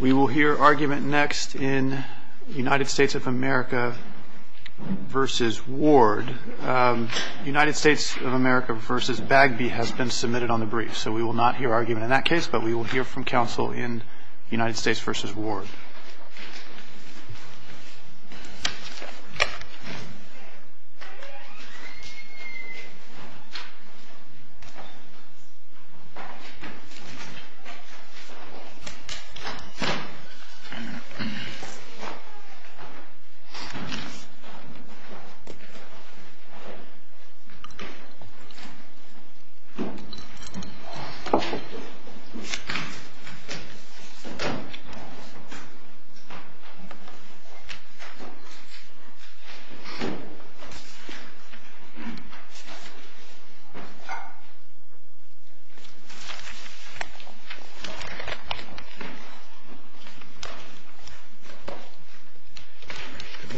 We will hear argument next in United States of America v. Ward. United States of America v. Bagby has been submitted on the brief, so we will not hear argument in that case, but we will hear from counsel in United States v. Ward. United States of America v. Doren Ward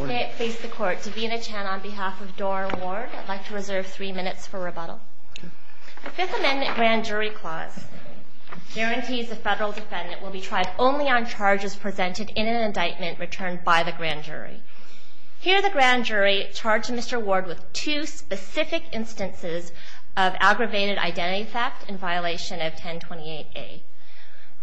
May it please the Court, Davina Chan on behalf of Doren Ward, I'd like to reserve three minutes for rebuttal. The Fifth Amendment grand jury clause guarantees the federal defendant will be tried only on charges presented in an indictment returned by the grand jury. Here the grand jury charged Mr. Ward with two specific instances of aggravated identity theft in violation of 1028A.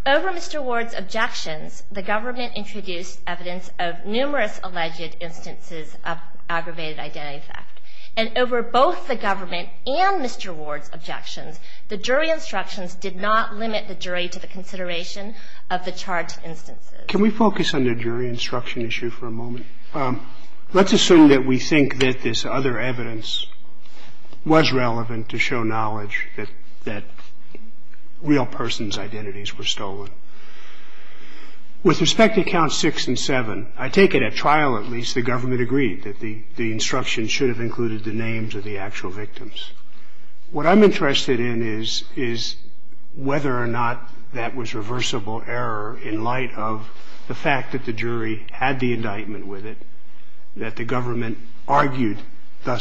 Over Mr. Ward's objections, the government introduced evidence of numerous alleged instances of aggravated identity theft. And over both the government and Mr. Ward's objections, the jury instructions did not limit the jury to the consideration of the charged instances. Can we focus on the jury instruction issue for a moment? Let's assume that we think that this other evidence was relevant to show knowledge that real persons' identities were stolen. With respect to Counts 6 and 7, I take it at trial, at least, the government agreed that the instructions should have included the names of the actual victims. What I'm interested in is whether or not that was reversible error in light of the fact that the jury had the indictment with it, that the government argued the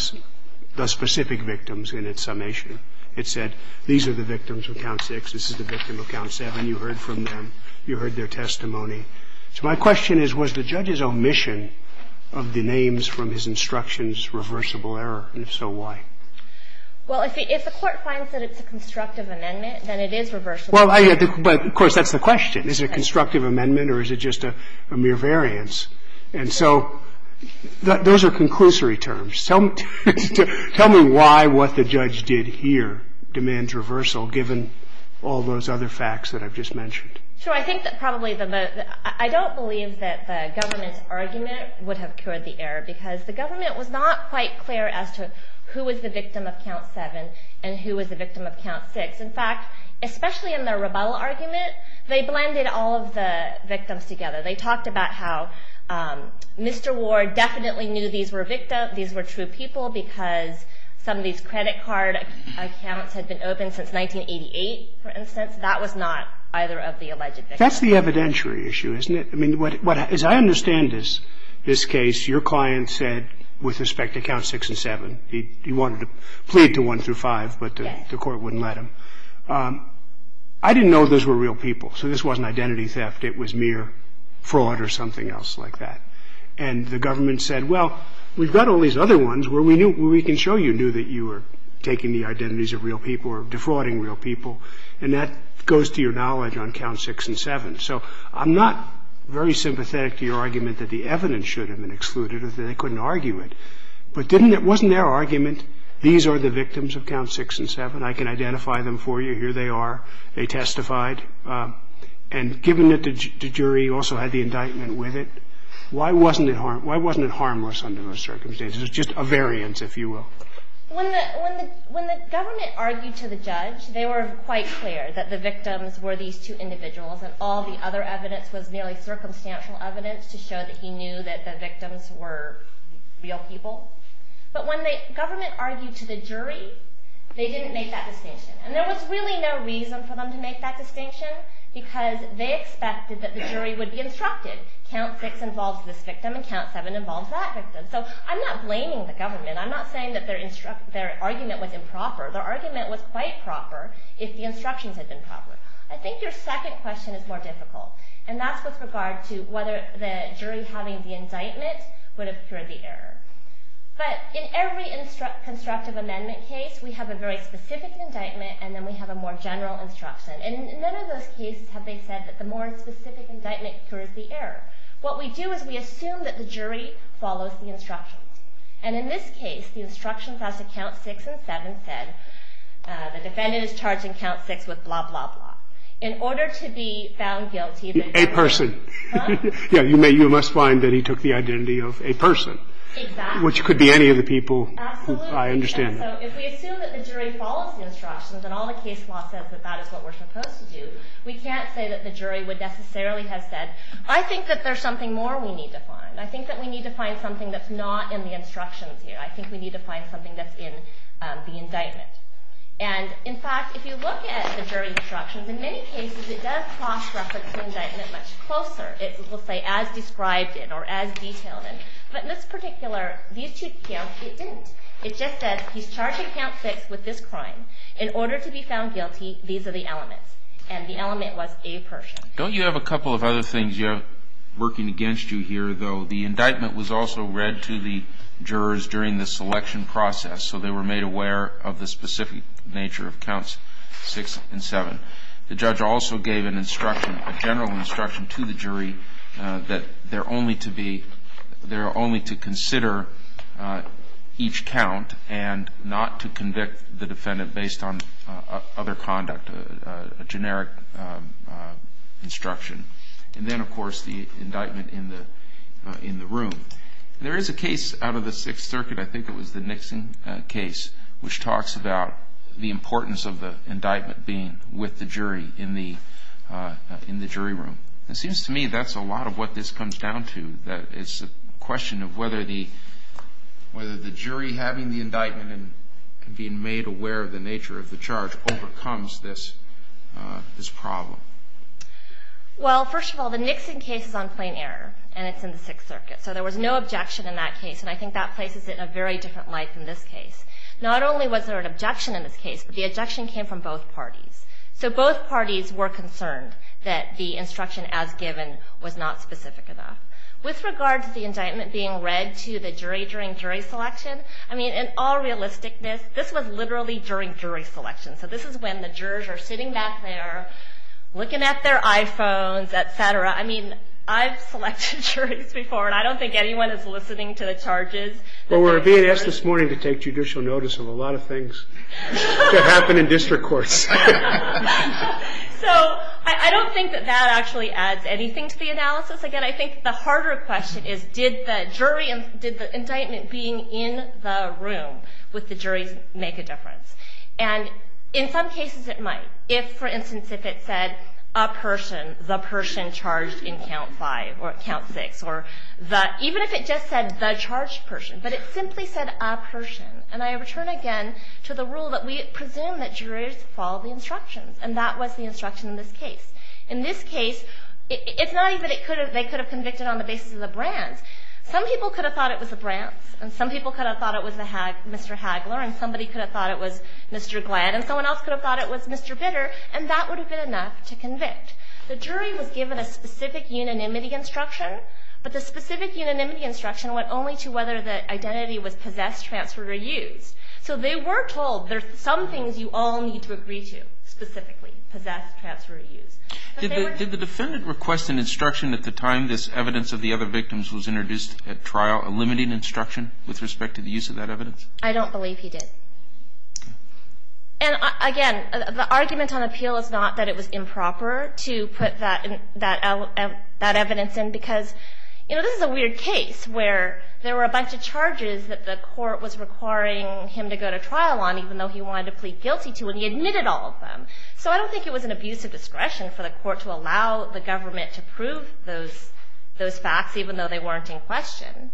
specific victims in its summation. It said, these are the victims of Count 6, this is the victim of Count 7. You heard from them. You heard their testimony. So my question is, was the judge's omission of the names from his instructions reversible error? And if so, why? Well, if the Court finds that it's a constructive amendment, then it is reversible. But, of course, that's the question. Is it a constructive amendment or is it just a mere variance? And so those are conclusory terms. Tell me why what the judge did here demands reversal, given all those other facts that I've just mentioned. I don't believe that the government's argument would have cured the error because the government was not quite clear as to who was the victim of Count 7 and who was the victim of Count 6. In fact, especially in their rebuttal argument, they blended all of the victims together. They talked about how Mr. Ward definitely knew these were true people because some of these credit card accounts had been open since 1988, for instance. That was not either of the alleged victims. That's the evidentiary issue, isn't it? I mean, as I understand this case, your client said, with respect to Count 6 and 7, he wanted to plead to 1 through 5, but the Court wouldn't let him. I didn't know those were real people, so this wasn't identity theft. It was mere fraud or something else like that. And the government said, well, we've got all these other ones where we can show you knew that you were taking the identities of real people or defrauding real people. And that goes to your knowledge on Count 6 and 7. So I'm not very sympathetic to your argument that the evidence should have been excluded or that they couldn't argue it. But wasn't their argument, these are the victims of Count 6 and 7? I can identify them for you. Here they are. They testified. And given that the jury also had the indictment with it, why wasn't it harmless under those circumstances? It was just a variance, if you will. When the government argued to the judge, they were quite clear that the victims were these two individuals and all the other evidence was merely circumstantial evidence to show that he knew that the victims were real people. But when the government argued to the jury, they didn't make that distinction. And there was really no reason for them to make that distinction because they expected that the jury would be instructed, Count 6 involves this victim and Count 7 involves that victim. So I'm not blaming the government. I'm not saying that their argument was improper. Their argument was quite proper if the instructions had been proper. I think your second question is more difficult. And that's with regard to whether the jury having the indictment would have cured the error. But in every constructive amendment case, we have a very specific indictment and then we have a more general instruction. And in none of those cases have they said that the more specific indictment cures the error. What we do is we assume that the jury follows the instructions. And in this case, the instructions as to Count 6 and 7 said the defendant is charged in Count 6 with blah, blah, blah. In order to be found guilty of a person. Yeah. You must find that he took the identity of a person. Exactly. Which could be any of the people I understand. Absolutely. So if we assume that the jury follows the instructions and all the case law says that that is what we're supposed to do, we can't say that the jury would necessarily have said, I think that there's something more we need to find. I think that we need to find something that's not in the instructions here. I think we need to find something that's in the indictment. And in fact, if you look at the jury instructions, in many cases it does cross-reflect the indictment much closer. It will say as described it or as detailed it. But in this particular, these two counts, it didn't. It just says he's charged in Count 6 with this crime. In order to be found guilty, these are the elements. And the element was a person. Don't you have a couple of other things working against you here, though? The indictment was also read to the jurors during the selection process, so they were made aware of the specific nature of Counts 6 and 7. The judge also gave an instruction, a general instruction to the jury, that they're only to consider each count and not to convict the defendant based on other conduct, a generic instruction. And then, of course, the indictment in the room. There is a case out of the Sixth Circuit, I think it was the Nixon case, which talks about the importance of the indictment being with the jury in the jury room. It seems to me that's a lot of what this comes down to, that it's a question of whether the jury having the indictment and being made aware of the nature of the charge overcomes this problem. Well, first of all, the Nixon case is on plain error, and it's in the Sixth Circuit. So there was no objection in that case, and I think that places it in a very different light than this case. Not only was there an objection in this case, but the objection came from both parties. So both parties were concerned that the instruction as given was not specific enough. With regard to the indictment being read to the jury during jury selection, I mean, in all realisticness, this was literally during jury selection. So this is when the jurors are sitting back there, looking at their iPhones, etc. I mean, I've selected juries before, and I don't think anyone is listening to the charges. Well, we're being asked this morning to take judicial notice of a lot of things that happen in district courts. So I don't think that that actually adds anything to the analysis. Once again, I think the harder question is, did the jury and did the indictment being in the room with the juries make a difference? And in some cases it might. If, for instance, if it said, a person, the person charged in Count 5 or Count 6, or even if it just said the charged person, but it simply said a person. And I return again to the rule that we presume that jurors follow the instructions, and that was the instruction in this case. In this case, it's not even that they could have convicted on the basis of the brands. Some people could have thought it was the brands, and some people could have thought it was Mr. Hagler, and somebody could have thought it was Mr. Glad, and someone else could have thought it was Mr. Bitter, and that would have been enough to convict. The jury was given a specific unanimity instruction, but the specific unanimity instruction went only to whether the identity was possessed, transferred, or used. So they were told there's some things you all need to agree to specifically, possess, transfer, or use. But they were told. Did the defendant request an instruction at the time this evidence of the other victims was introduced at trial, a limited instruction with respect to the use of that evidence? I don't believe he did. And again, the argument on appeal is not that it was improper to put that evidence in, because this is a weird case where there were a bunch of charges that the court was requiring him to go to trial on, even though he wanted to plead guilty to, and he admitted all of them. So I don't think it was an abuse of discretion for the court to allow the government to prove those facts, even though they weren't in question.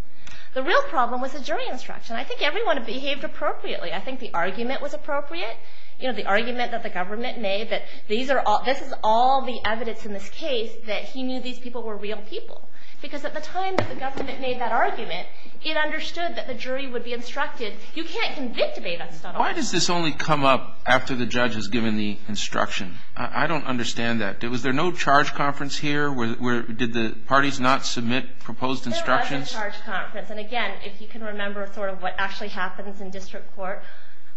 The real problem was the jury instruction. I think everyone behaved appropriately. I think the argument was appropriate. You know, the argument that the government made that this is all the evidence in this case, that he knew these people were real people. Because at the time that the government made that argument, it understood that the jury would be instructed. You can't convict a defendant. Why does this only come up after the judge has given the instruction? I don't understand that. Was there no charge conference here? Did the parties not submit proposed instructions? There was a charge conference. And again, if you can remember sort of what actually happens in district court,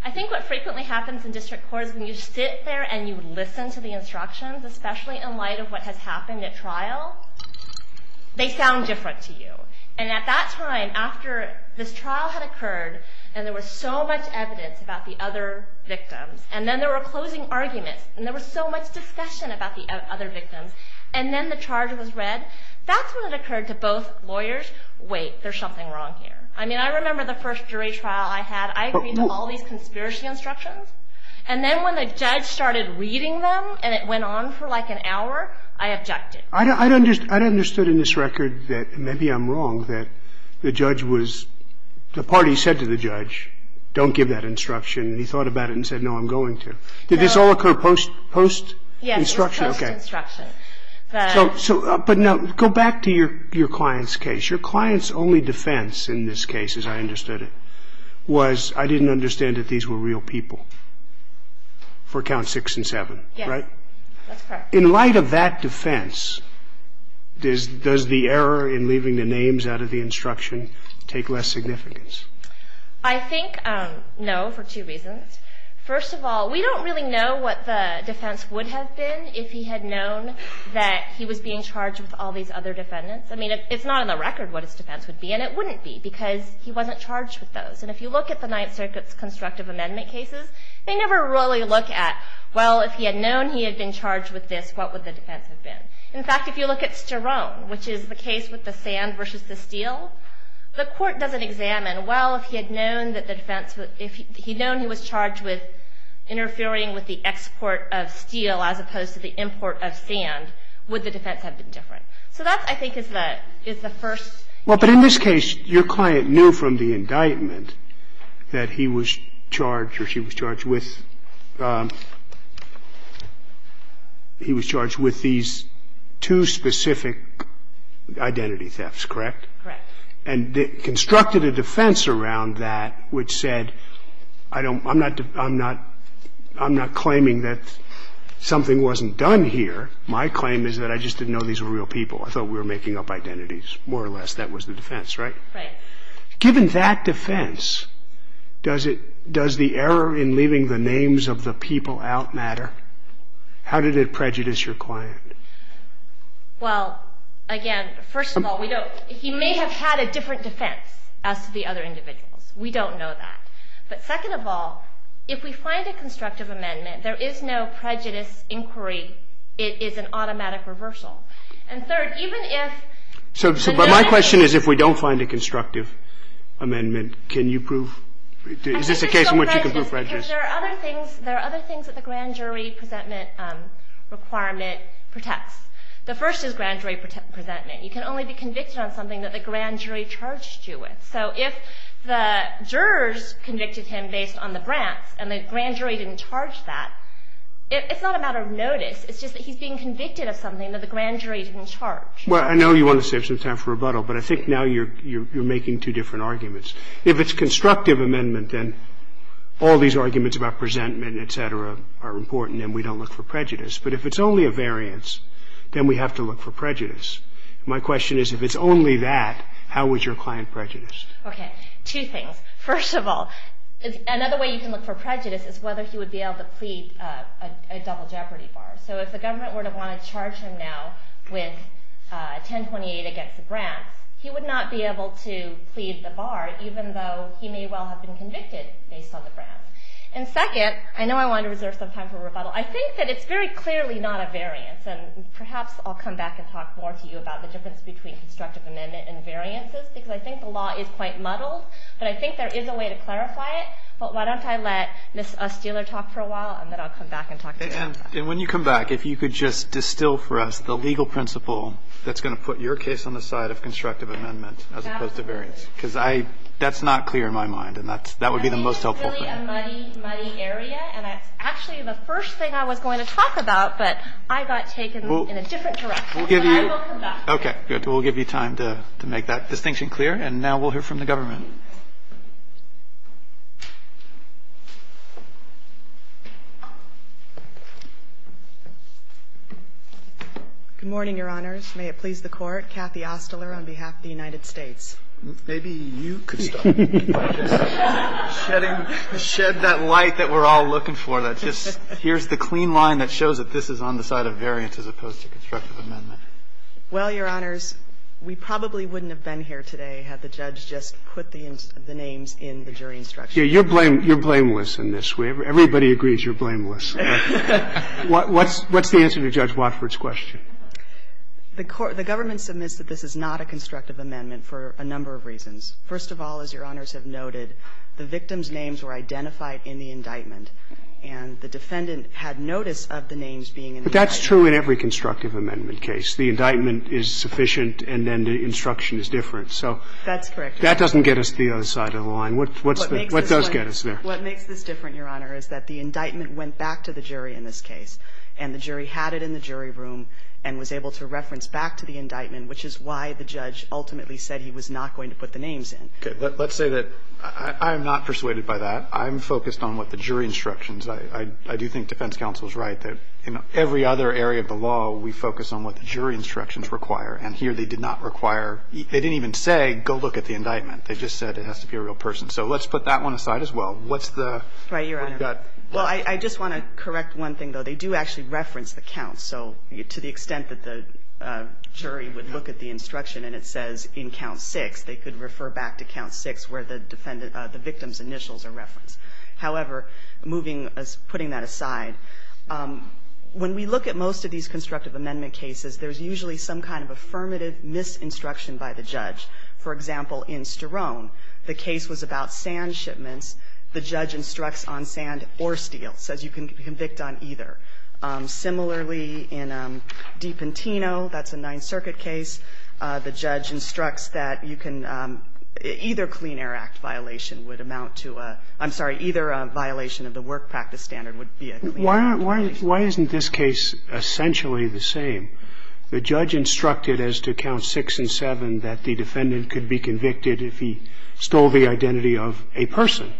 I think what frequently happens in district court is when you sit there and you listen to the instructions, especially in light of what has happened at trial, they sound different to you. And at that time, after this trial had occurred, and there was so much evidence about the other victims, and then there were closing arguments, and there was so much discussion about the other victims, and then the charge was read, that's when it occurred to both lawyers, wait, there's something wrong here. I mean, I remember the first jury trial I had. I agreed to all these conspiracy instructions. And then when the judge started reading them and it went on for like an hour, I objected. I'd understood in this record that maybe I'm wrong, that the judge was the party said to the judge, don't give that instruction, and he thought about it and said, no, I'm going to. Did this all occur post-instruction? Yes, post-instruction. But now go back to your client's case. Your client's only defense in this case, as I understood it, was I didn't understand that these were real people for Counts 6 and 7, right? Yes, that's correct. In light of that defense, does the error in leaving the names out of the instruction take less significance? I think no, for two reasons. First of all, we don't really know what the defense would have been if he had known that he was being charged with all these other defendants. I mean, it's not on the record what his defense would be, and it wouldn't be, because he wasn't charged with those. And if you look at the Ninth Circuit's constructive amendment cases, they never really look at, well, if he had known he had been charged with this, what would the defense have been? In fact, if you look at Sterone, which is the case with the sand versus the steel, the court doesn't examine, well, if he had known he was charged with interfering with the export of steel as opposed to the import of sand, would the defense have been different? So that, I think, is the first. Well, but in this case, your client knew from the indictment that he was charged or she was charged with these two specific identity thefts, correct? Correct. And constructed a defense around that which said, I'm not claiming that something wasn't done here. My claim is that I just didn't know these were real people. I thought we were making up identities, more or less. That was the defense, right? Right. Given that defense, does the error in leaving the names of the people out matter? How did it prejudice your client? Well, again, first of all, he may have had a different defense as to the other individuals. We don't know that. But second of all, if we find a constructive amendment, there is no prejudice inquiry. It is an automatic reversal. And third, even if – But my question is, if we don't find a constructive amendment, can you prove – is this a case in which you can prove prejudice? There are other things that the grand jury presentment requirement protects. The first is grand jury presentment. You can only be convicted on something that the grand jury charged you with. So if the jurors convicted him based on the grants and the grand jury didn't charge that, it's not a matter of notice. It's just that he's being convicted of something that the grand jury didn't charge. Well, I know you want to save some time for rebuttal, but I think now you're making two different arguments. If it's constructive amendment, then all these arguments about presentment, et cetera, are important and we don't look for prejudice. My question is, if it's only that, how is your client prejudiced? Okay. Two things. First of all, another way you can look for prejudice is whether he would be able to plead a double jeopardy bar. So if the government were to want to charge him now with 1028 against the grants, he would not be able to plead the bar, even though he may well have been convicted based on the grants. And second, I know I want to reserve some time for rebuttal. I think that it's very clearly not a variance. And perhaps I'll come back and talk more to you about the difference between constructive amendment and variances because I think the law is quite muddled, but I think there is a way to clarify it. But why don't I let Ms. Steeler talk for a while, and then I'll come back and talk to you. And when you come back, if you could just distill for us the legal principle that's going to put your case on the side of constructive amendment as opposed to variance. Because that's not clear in my mind, and that would be the most helpful thing. I think it's really a muddy, muddy area, and that's actually the first thing I was going to talk about, but I got taken in a different direction. And I will come back. Okay. We'll give you time to make that distinction clear. And now we'll hear from the government. Good morning, Your Honors. May it please the Court. Kathy Ostler on behalf of the United States. Maybe you could start by just shedding that light that we're all looking for, that just here's the clean line that shows that this is on the side of variance as opposed to constructive amendment. Well, Your Honors, we probably wouldn't have been here today had the judge just put the names in the jury instructions. You're blameless in this. Everybody agrees you're blameless. What's the answer to Judge Watford's question? The government submits that this is not a constructive amendment for a number of reasons. First of all, as Your Honors have noted, the victim's names were identified in the indictment, and the defendant had notice of the names being in the indictment. But that's true in every constructive amendment case. The indictment is sufficient, and then the instruction is different. That's correct. So that doesn't get us to the other side of the line. What does get us there? What makes this different, Your Honor, is that the indictment went back to the jury in this case, and the jury had it in the jury room and was able to reference back to the indictment, which is why the judge ultimately said he was not going to put the names in. Okay. Let's say that I'm not persuaded by that. I'm focused on what the jury instructions. I do think defense counsel is right that in every other area of the law we focus on what the jury instructions require, and here they did not require they didn't even say go look at the indictment. They just said it has to be a real person. So let's put that one aside as well. What's the other? Right, Your Honor. Well, I just want to correct one thing, though. They do actually reference the counts. So to the extent that the jury would look at the instruction and it says in count six, they could refer back to count six where the victim's initials are referenced. However, putting that aside, when we look at most of these constructive amendment cases, there's usually some kind of affirmative misinstruction by the judge. For example, in Sterone, the case was about sand shipments. The judge instructs on sand or steel, says you can convict on either. Similarly, in Dipentino, that's a Ninth Circuit case. The judge instructs that you can – either Clean Air Act violation would amount to a – I'm sorry, either a violation of the work practice standard would be a Clean Air Act violation. Why isn't this case essentially the same? The judge instructed as to count six and seven that the defendant could be convicted if he stole the identity of a person.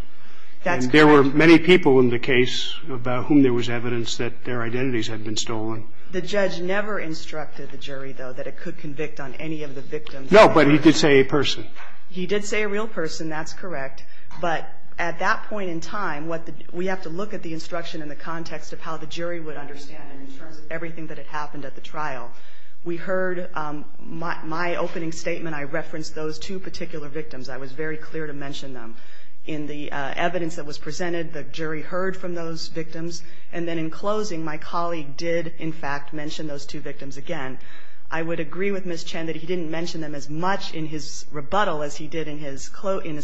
That's correct. And there were many people in the case about whom there was evidence that their identities had been stolen. The judge never instructed the jury, though, that it could convict on any of the victims. No, but he did say a person. He did say a real person. That's correct. But at that point in time, what the – we have to look at the instruction in the context of how the jury would understand it in terms of everything that had happened at the trial. We heard my opening statement. I referenced those two particular victims. I was very clear to mention them. In the evidence that was presented, the jury heard from those victims. And then in closing, my colleague did, in fact, mention those two victims again. I would agree with Ms. Chen that he didn't mention them as much in his rebuttal as he did in his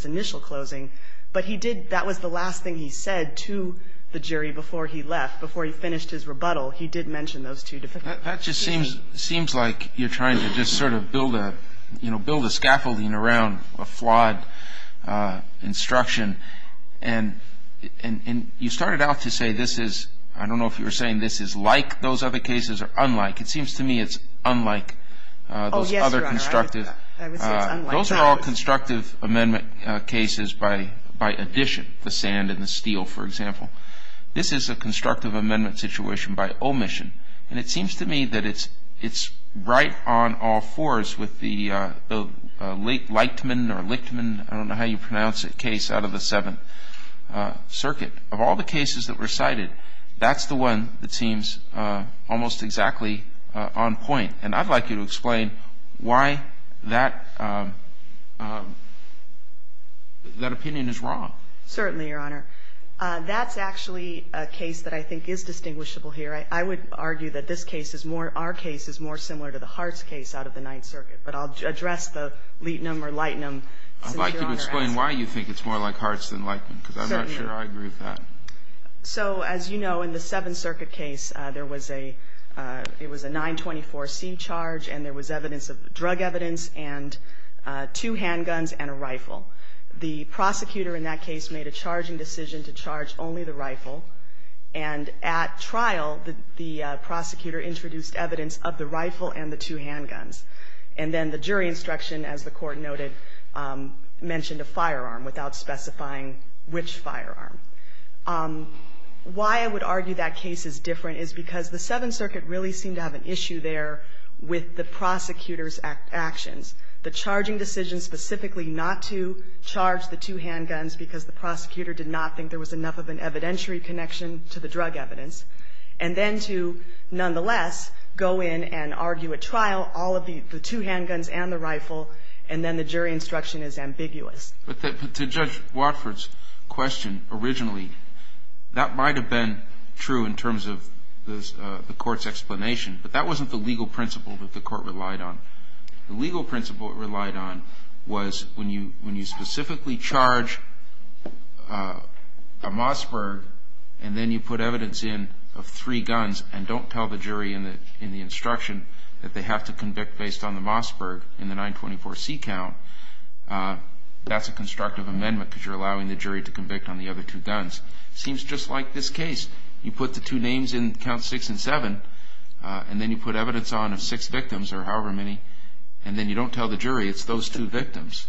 initial closing. But he did – that was the last thing he said to the jury before he left, before he finished his rebuttal. He did mention those two defendants. That just seems like you're trying to just sort of build a – you know, build a scaffolding around a flawed instruction. And you started out to say this is – I don't know if you were saying this is like those other cases or unlike. It seems to me it's unlike those other constructive – Oh, yes, Your Honor. I would say it's unlike those. Those are all constructive amendment cases by addition, the sand and the steel, for example. This is a constructive amendment situation by omission. And it seems to me that it's right on all fours with the Lichtman or Lichtman, I don't know how you pronounce it, case out of the Seventh Circuit. Of all the cases that were cited, that's the one that seems almost exactly on point. And I'd like you to explain why that opinion is wrong. Certainly, Your Honor. That's actually a case that I think is distinguishable here. I would argue that this case is more – our case is more similar to the Hartz case out of the Ninth Circuit. But I'll address the Lietnam or Lichtman. I'd like you to explain why you think it's more like Hartz than Lichtman, because I'm not sure I agree with that. So, as you know, in the Seventh Circuit case, there was a – it was a 924C charge, and there was evidence of – drug evidence and two handguns and a rifle. The prosecutor in that case made a charging decision to charge only the rifle. And at trial, the prosecutor introduced evidence of the rifle and the two handguns. And then the jury instruction, as the Court noted, mentioned a firearm without specifying which firearm. Why I would argue that case is different is because the Seventh Circuit really seemed to have an issue there with the prosecutor's actions. The charging decision specifically not to charge the two handguns because the prosecutor did not think there was enough of an evidentiary connection to the drug evidence, and then to, nonetheless, go in and argue at trial all of the two handguns and the rifle, and then the jury instruction is ambiguous. But to Judge Watford's question originally, that might have been true in terms of the Court's explanation, but that wasn't the legal principle that the Court relied on. The legal principle it relied on was when you specifically charge a Mossberg, and then you put evidence in of three guns and don't tell the jury in the instruction that they have to convict based on the Mossberg in the 924C count, that's a constructive amendment because you're allowing the jury to convict on the other two guns. It seems just like this case. You put the two names in Counts 6 and 7, and then you put evidence on of six and then you don't tell the jury, it's those two victims.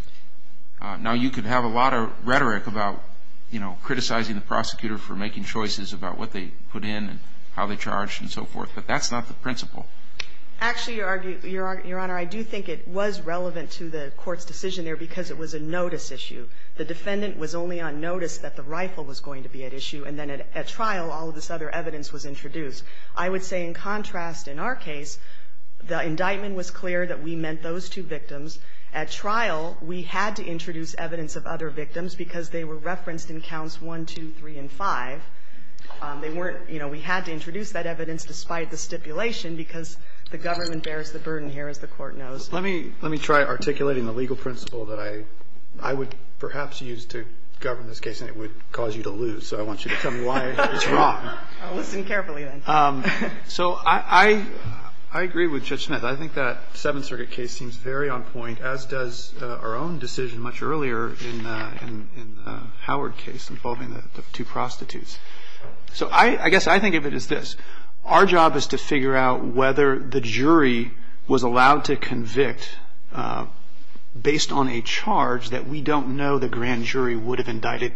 Now, you could have a lot of rhetoric about, you know, criticizing the prosecutor for making choices about what they put in and how they charged and so forth, but that's not the principle. Actually, Your Honor, I do think it was relevant to the Court's decision there because it was a notice issue. The defendant was only on notice that the rifle was going to be at issue, and then at trial all of this other evidence was introduced. I would say, in contrast, in our case, the indictment was clear that we meant those two victims. At trial, we had to introduce evidence of other victims because they were referenced in Counts 1, 2, 3, and 5. They weren't, you know, we had to introduce that evidence despite the stipulation because the government bears the burden here, as the Court knows. Let me try articulating the legal principle that I would perhaps use to govern this case, and it would cause you to lose, so I want you to tell me why it's wrong. I'll listen carefully then. So I agree with Judge Smith. I think that Seventh Circuit case seems very on point, as does our own decision much earlier in the Howard case involving the two prostitutes. So I guess I think of it as this. Our job is to figure out whether the jury was allowed to convict based on a charge that we don't know the grand jury would have indicted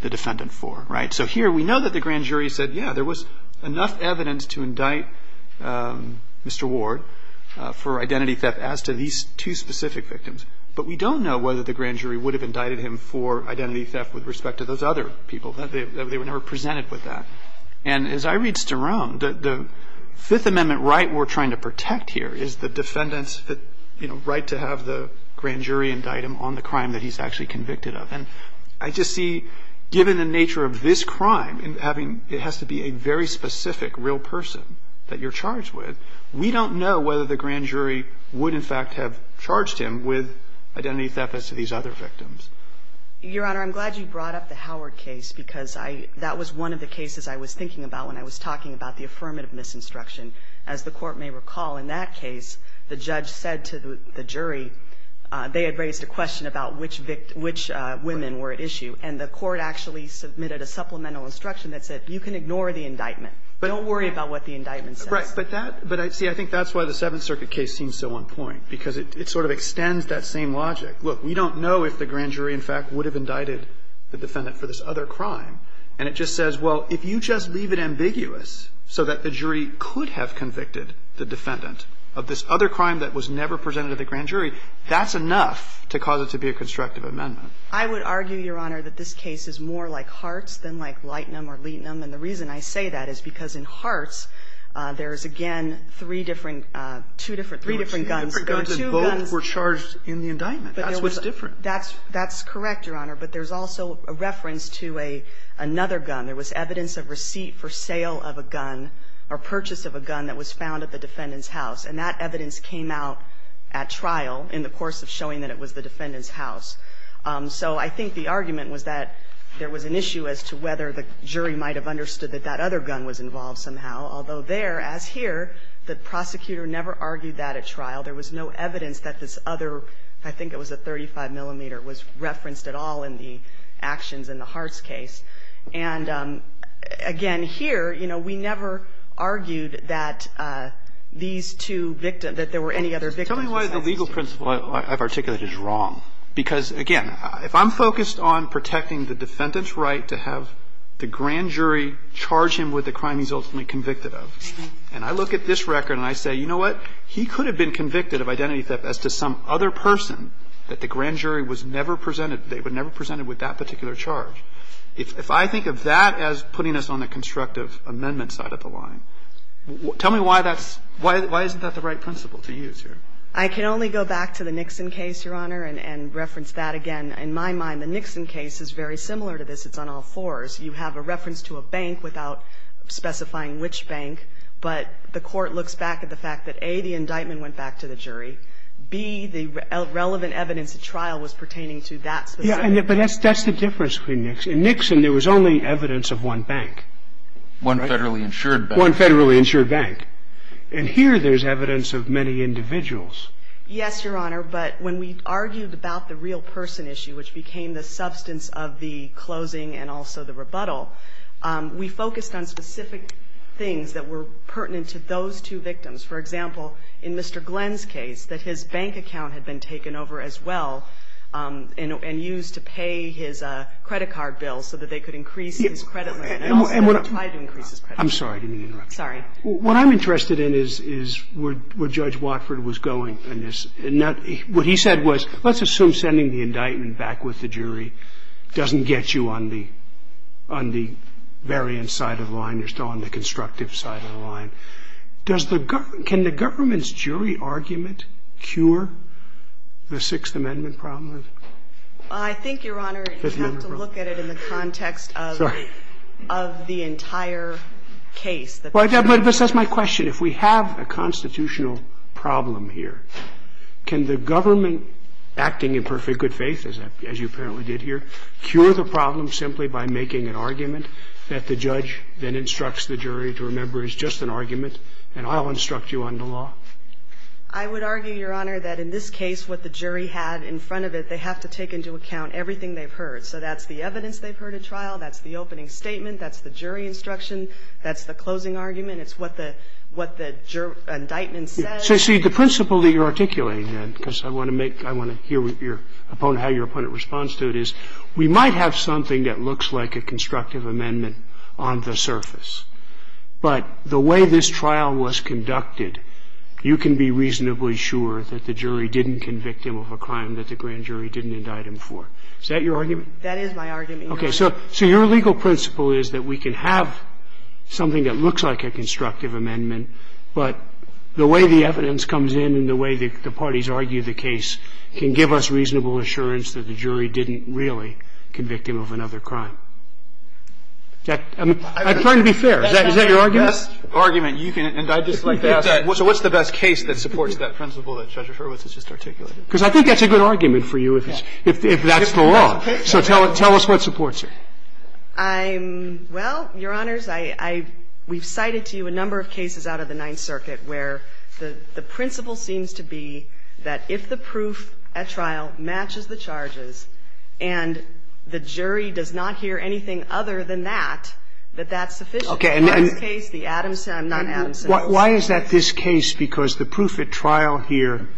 the defendant for, right? So here we know that the grand jury said, yeah, there was enough evidence to indict Mr. Ward for identity theft as to these two specific victims. But we don't know whether the grand jury would have indicted him for identity theft with respect to those other people. They were never presented with that. And as I read Sterome, the Fifth Amendment right we're trying to protect here is the defendant's, you know, right to have the grand jury indict him on the crime that he's actually convicted of. And I just see given the nature of this crime and having, it has to be a very specific real person that you're charged with, we don't know whether the grand jury would in fact have charged him with identity theft as to these other victims. Your Honor, I'm glad you brought up the Howard case because I, that was one of the cases I was thinking about when I was talking about the affirmative misinstruction. As the Court may recall, in that case, the judge said to the jury, they had raised a question about which victim, which women were at issue. And the Court actually submitted a supplemental instruction that said, you can ignore the indictment. Don't worry about what the indictment says. Right. But that, but see, I think that's why the Seventh Circuit case seems so on point, because it sort of extends that same logic. Look, we don't know if the grand jury in fact would have indicted the defendant for this other crime. And it just says, well, if you just leave it ambiguous so that the jury could have convicted the defendant of this other crime that was never presented to the grand jury, that's enough to cause it to be a constructive amendment. I would argue, Your Honor, that this case is more like Hart's than like Leighton or Leighton. And the reason I say that is because in Hart's, there is again three different, two different, three different guns. And both were charged in the indictment. That's what's different. That's, that's correct, Your Honor. But there's also a reference to another gun. There was evidence of receipt for sale of a gun or purchase of a gun that was found at the defendant's house. And that evidence came out at trial in the course of showing that it was the defendant's house. So I think the argument was that there was an issue as to whether the jury might have understood that that other gun was involved somehow. Although there, as here, the prosecutor never argued that at trial. There was no evidence that this other, I think it was a 35 millimeter, was referenced at all in the actions in the Hart's case. And, again, here, you know, we never argued that these two victims, that there were any other victims besides these two. Tell me why the legal principle I've articulated is wrong. Because, again, if I'm focused on protecting the defendant's right to have the grand jury charge him with the crime he's ultimately convicted of, and I look at this record and I say, you know what, he could have been convicted of identity theft as to some other person that the grand jury was never presented, they were never presented with that particular charge, if I think of that as putting us on the constructive amendment side of the line, tell me why that's, why isn't that the right principle to use here? I can only go back to the Nixon case, Your Honor, and reference that again. In my mind, the Nixon case is very similar to this. It's on all fours. You have a reference to a bank without specifying which bank. But the court looks back at the fact that, A, the indictment went back to the jury. B, the relevant evidence at trial was pertaining to that specific bank. Yeah, but that's the difference between Nixon. In Nixon, there was only evidence of one bank. One federally insured bank. One federally insured bank. And here there's evidence of many individuals. Yes, Your Honor, but when we argued about the real person issue, which became the substance of the closing and also the rebuttal, we focused on specific things that were pertinent to those two victims. For example, in Mr. Glenn's case, that his bank account had been taken over as well and used to pay his credit card bill so that they could increase his credit limit. And also they tried to increase his credit limit. I'm sorry. I didn't mean to interrupt you. Sorry. What I'm interested in is where Judge Watford was going in this. What he said was, let's assume sending the indictment back with the jury doesn't get you on the variant side of the line. You're still on the constructive side of the line. Can the government's jury argument cure the Sixth Amendment problem? I think, Your Honor, you have to look at it in the context of the entire case. But that's my question. If we have a constitutional problem here, can the government, acting in perfect good faith, as you apparently did here, cure the problem simply by making an argument that the judge then instructs the jury to remember is just an argument, and I'll instruct you on the law? I would argue, Your Honor, that in this case what the jury had in front of it, they have to take into account everything they've heard. So that's the evidence they've heard at trial. That's the opening statement. That's the jury instruction. That's the closing argument. It's what the indictment says. So, see, the principle that you're articulating then, because I want to hear how your opponent responds to it, is we might have something that looks like a constructive amendment on the surface, but the way this trial was conducted, you can be reasonably sure that the jury didn't convict him of a crime that the grand jury didn't indict him for. Is that your argument? That is my argument, Your Honor. Okay. So your legal principle is that we can have something that looks like a constructive amendment, but the way the evidence comes in and the way the parties argue the case can give us reasonable assurance that the jury didn't really convict him of another crime. I'm trying to be fair. Is that your argument? That's the best argument you can indict. So what's the best case that supports that principle that Judge Hurwitz has just articulated? Because I think that's a good argument for you if that's the law. So tell us what supports it. Well, Your Honors, I – we've cited to you a number of cases out of the Ninth Circuit where the principle seems to be that if the proof at trial matches the charges and the jury does not hear anything other than that, that that's sufficient. Okay. In this case, the Adamson – not Adamson. Why is that this case? Because the proof at trial here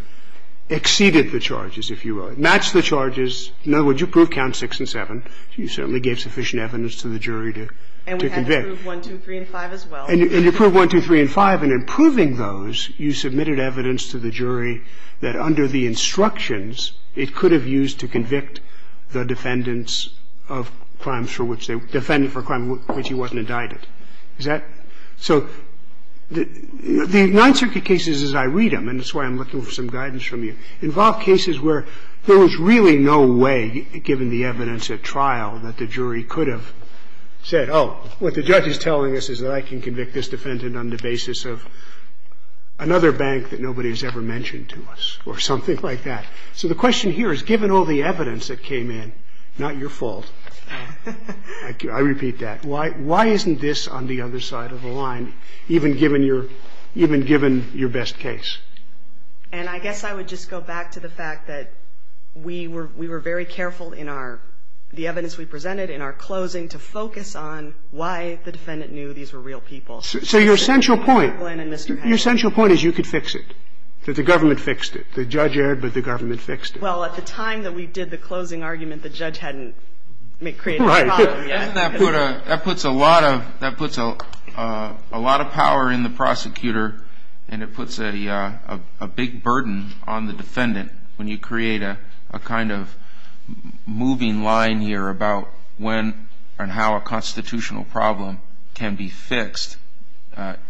exceeded the charges, if you will. It matched the charges. In other words, your proof counts 6 and 7. So you certainly gave sufficient evidence to the jury to convict. And we had to prove 1, 2, 3, and 5 as well. And you proved 1, 2, 3, and 5. And in proving those, you submitted evidence to the jury that under the instructions, it could have used to convict the defendants of crimes for which they – defendant for a crime for which he wasn't indicted. Is that – so the Ninth Circuit cases, as I read them, and that's why I'm looking for some guidance from you, involve cases where there was really no way, given the evidence at trial, that the jury could have said, oh, what the judge is telling us is that I can convict this defendant on the basis of another bank that nobody has ever mentioned to us or something like that. So the question here is, given all the evidence that came in, not your fault. I repeat that. Why isn't this on the other side of the line, even given your – even given your best case? And I guess I would just go back to the fact that we were – we were very careful in our – the evidence we presented in our closing to focus on why the defendant knew these were real people. So your central point – Mr. Franklin and Mr. Hatch. Your central point is you could fix it, that the government fixed it. The judge erred, but the government fixed it. Well, at the time that we did the closing argument, the judge hadn't created a problem yet. Right. And that put a – that puts a lot of – that puts a lot of power in the prosecutor, and it puts a big burden on the defendant when you create a kind of moving line here about when and how a constitutional problem can be fixed.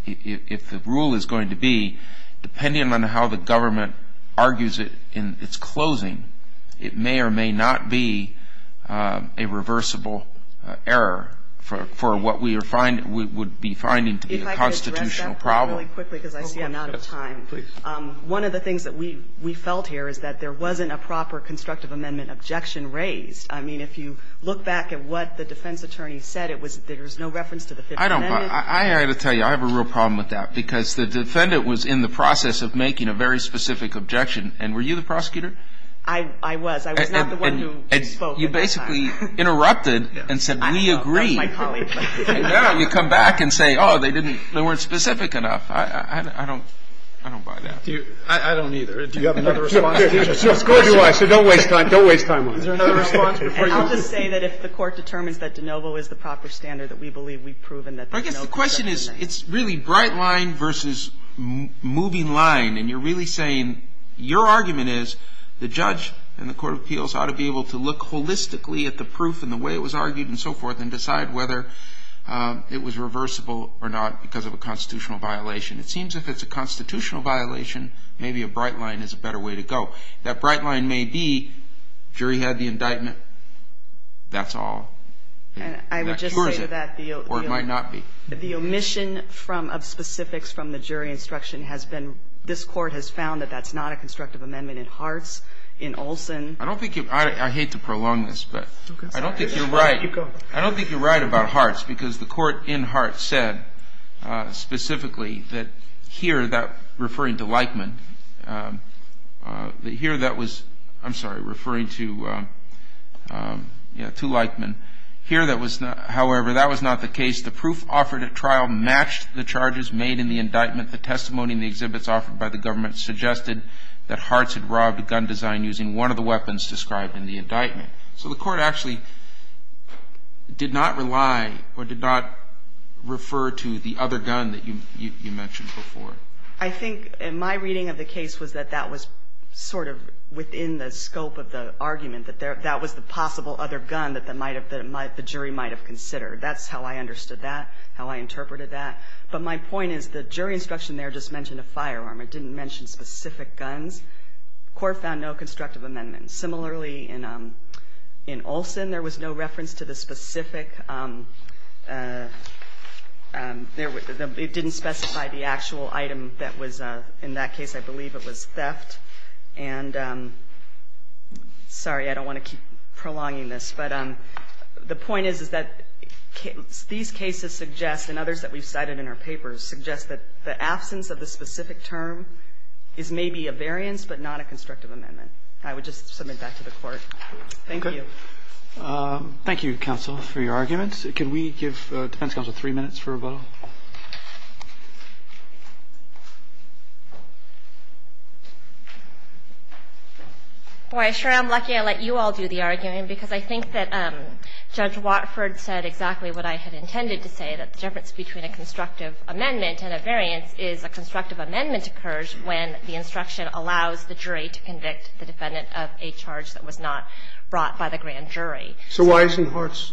If the rule is going to be, depending on how the government argues it in its closing, it may or may not be a reversible error for what we are – would be finding to be a constitutional problem. Let me just say really quickly, because I see I'm out of time. Please. One of the things that we felt here is that there wasn't a proper constructive amendment objection raised. I mean, if you look back at what the defense attorney said, it was that there was no reference to the 15 minutes. I don't – I have to tell you, I have a real problem with that, because the defendant was in the process of making a very specific objection. And were you the prosecutor? I was. I was not the one who spoke at the time. And you basically interrupted and said, we agree. I know. That was my colleague. I know. And now you come back and say, oh, they didn't – they weren't specific enough. I don't – I don't buy that. I don't either. Do you have another response? Of course you do. So don't waste time. Don't waste time on it. Is there another response before you? I'll just say that if the Court determines that de novo is the proper standard that we believe we've proven that – I guess the question is, it's really bright line versus moving line. And you're really saying your argument is the judge and the court of appeals ought to be able to look holistically at the proof and the way it was argued and so forth and decide whether it was reversible or not because of a constitutional violation. It seems if it's a constitutional violation, maybe a bright line is a better way to go. That bright line may be jury had the indictment. That's all. And that cures it. I would just say that the – Or it might not be. The omission from – of specifics from the jury instruction has been – this Court has found that that's not a constructive amendment in Hartz, in Olson. I don't think you – I hate to prolong this, but I don't think you're right. Go ahead. I don't think you're right about Hartz because the court in Hartz said specifically that here that – referring to Leichman, that here that was – I'm sorry, referring to – yeah, to Leichman. Here that was not – however, that was not the case. The proof offered at trial matched the charges made in the indictment. The testimony and the exhibits offered by the government suggested that Hartz had robbed a gun design using one of the weapons described in the indictment. So the court actually did not rely or did not refer to the other gun that you mentioned before. I think in my reading of the case was that that was sort of within the scope of the argument, that that was the possible other gun that the jury might have considered. That's how I understood that, how I interpreted that. But my point is the jury instruction there just mentioned a firearm. It didn't mention specific guns. The court found no constructive amendment. Similarly, in Olson, there was no reference to the specific – it didn't specify the actual item that was in that case. I believe it was theft. And sorry, I don't want to keep prolonging this. But the point is, is that these cases suggest, and others that we've cited in our papers, suggest that the absence of the specific term is maybe a variance but not a constructive amendment. I would just submit that to the court. Thank you. Roberts. Thank you, counsel, for your arguments. Could we give defense counsel three minutes for rebuttal? Boy, I'm sure I'm lucky I let you all do the argument, because I think that Judge Watford said exactly what I had intended to say, that the difference between a constructive amendment and a variance is a constructive amendment occurs when the defendant has a charge that was not brought by the grand jury. So why isn't Hartz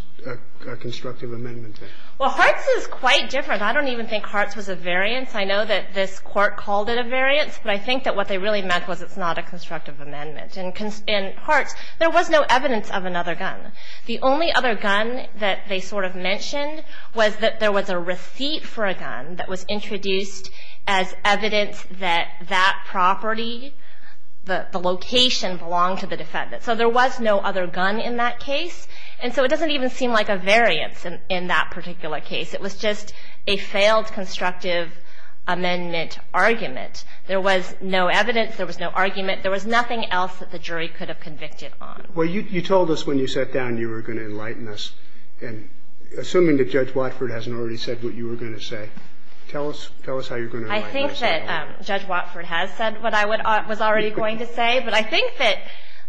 a constructive amendment? Well, Hartz is quite different. I don't even think Hartz was a variance. I know that this court called it a variance, but I think that what they really meant was it's not a constructive amendment. In Hartz, there was no evidence of another gun. The only other gun that they sort of mentioned was that there was a receipt for a gun that was introduced as evidence that that property, the location, belonged to the defendant. So there was no other gun in that case. And so it doesn't even seem like a variance in that particular case. It was just a failed constructive amendment argument. There was no evidence. There was no argument. There was nothing else that the jury could have convicted on. Well, you told us when you sat down you were going to enlighten us. And assuming that Judge Watford hasn't already said what you were going to say, tell us how you're going to enlighten us. I think that Judge Watford has said what I was already going to say. But I think that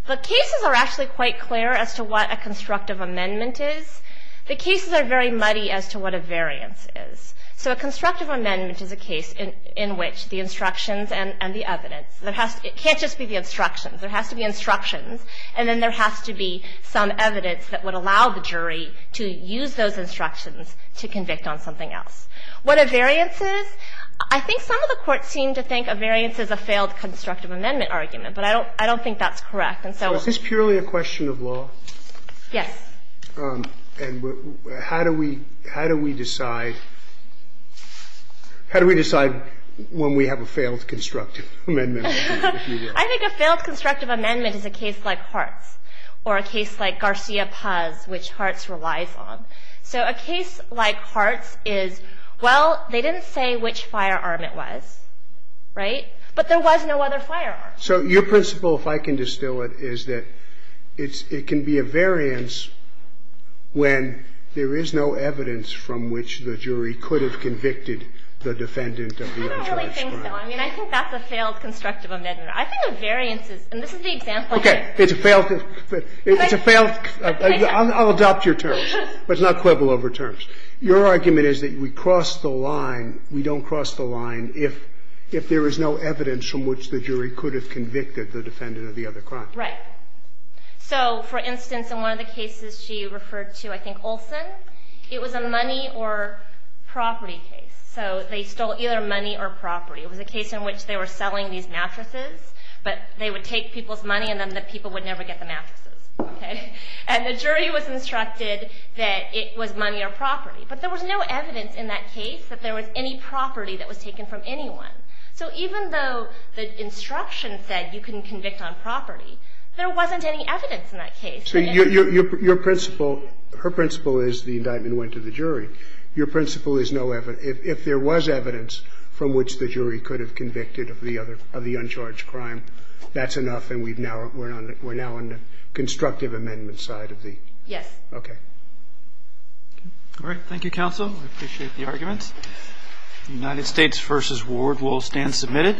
the cases are actually quite clear as to what a constructive amendment is. The cases are very muddy as to what a variance is. So a constructive amendment is a case in which the instructions and the evidence It can't just be the instructions. There has to be instructions, and then there has to be some evidence that would allow the jury to use those instructions to convict on something else. What a variance is, I think some of the courts seem to think a variance is a failed constructive amendment argument. But I don't think that's correct. So is this purely a question of law? Yes. And how do we decide when we have a failed constructive amendment? I think a failed constructive amendment is a case like Hart's or a case like Garcia Paz, which Hart's relies on. So a case like Hart's is, well, they didn't say which firearm it was, right? But there was no other firearm. So your principle, if I can distill it, is that it can be a variance when there is no evidence from which the jury could have convicted the defendant of the unjust crime. I don't really think so. I mean, I think that's a failed constructive amendment. I think a variance is, and this is the example here. It's a failed, it's a failed, I'll adopt your terms, but it's not quibble over terms. Your argument is that we cross the line, we don't cross the line if there is no evidence from which the jury could have convicted the defendant of the other crime. Right. So, for instance, in one of the cases she referred to, I think Olson, it was a money or property case. So they stole either money or property. It was a case in which they were selling these mattresses, but they would take people's money and then the people would never get the mattresses. Okay? And the jury was instructed that it was money or property. But there was no evidence in that case that there was any property that was taken from anyone. So even though the instruction said you can convict on property, there wasn't any evidence in that case. So your principle, her principle is the indictment went to the jury. Your principle is no evidence. If there was evidence from which the jury could have convicted of the other, of the We're now on the constructive amendment side of the... Yes. Okay. All right. Thank you, counsel. I appreciate the arguments. United States v. Ward will stand submitted.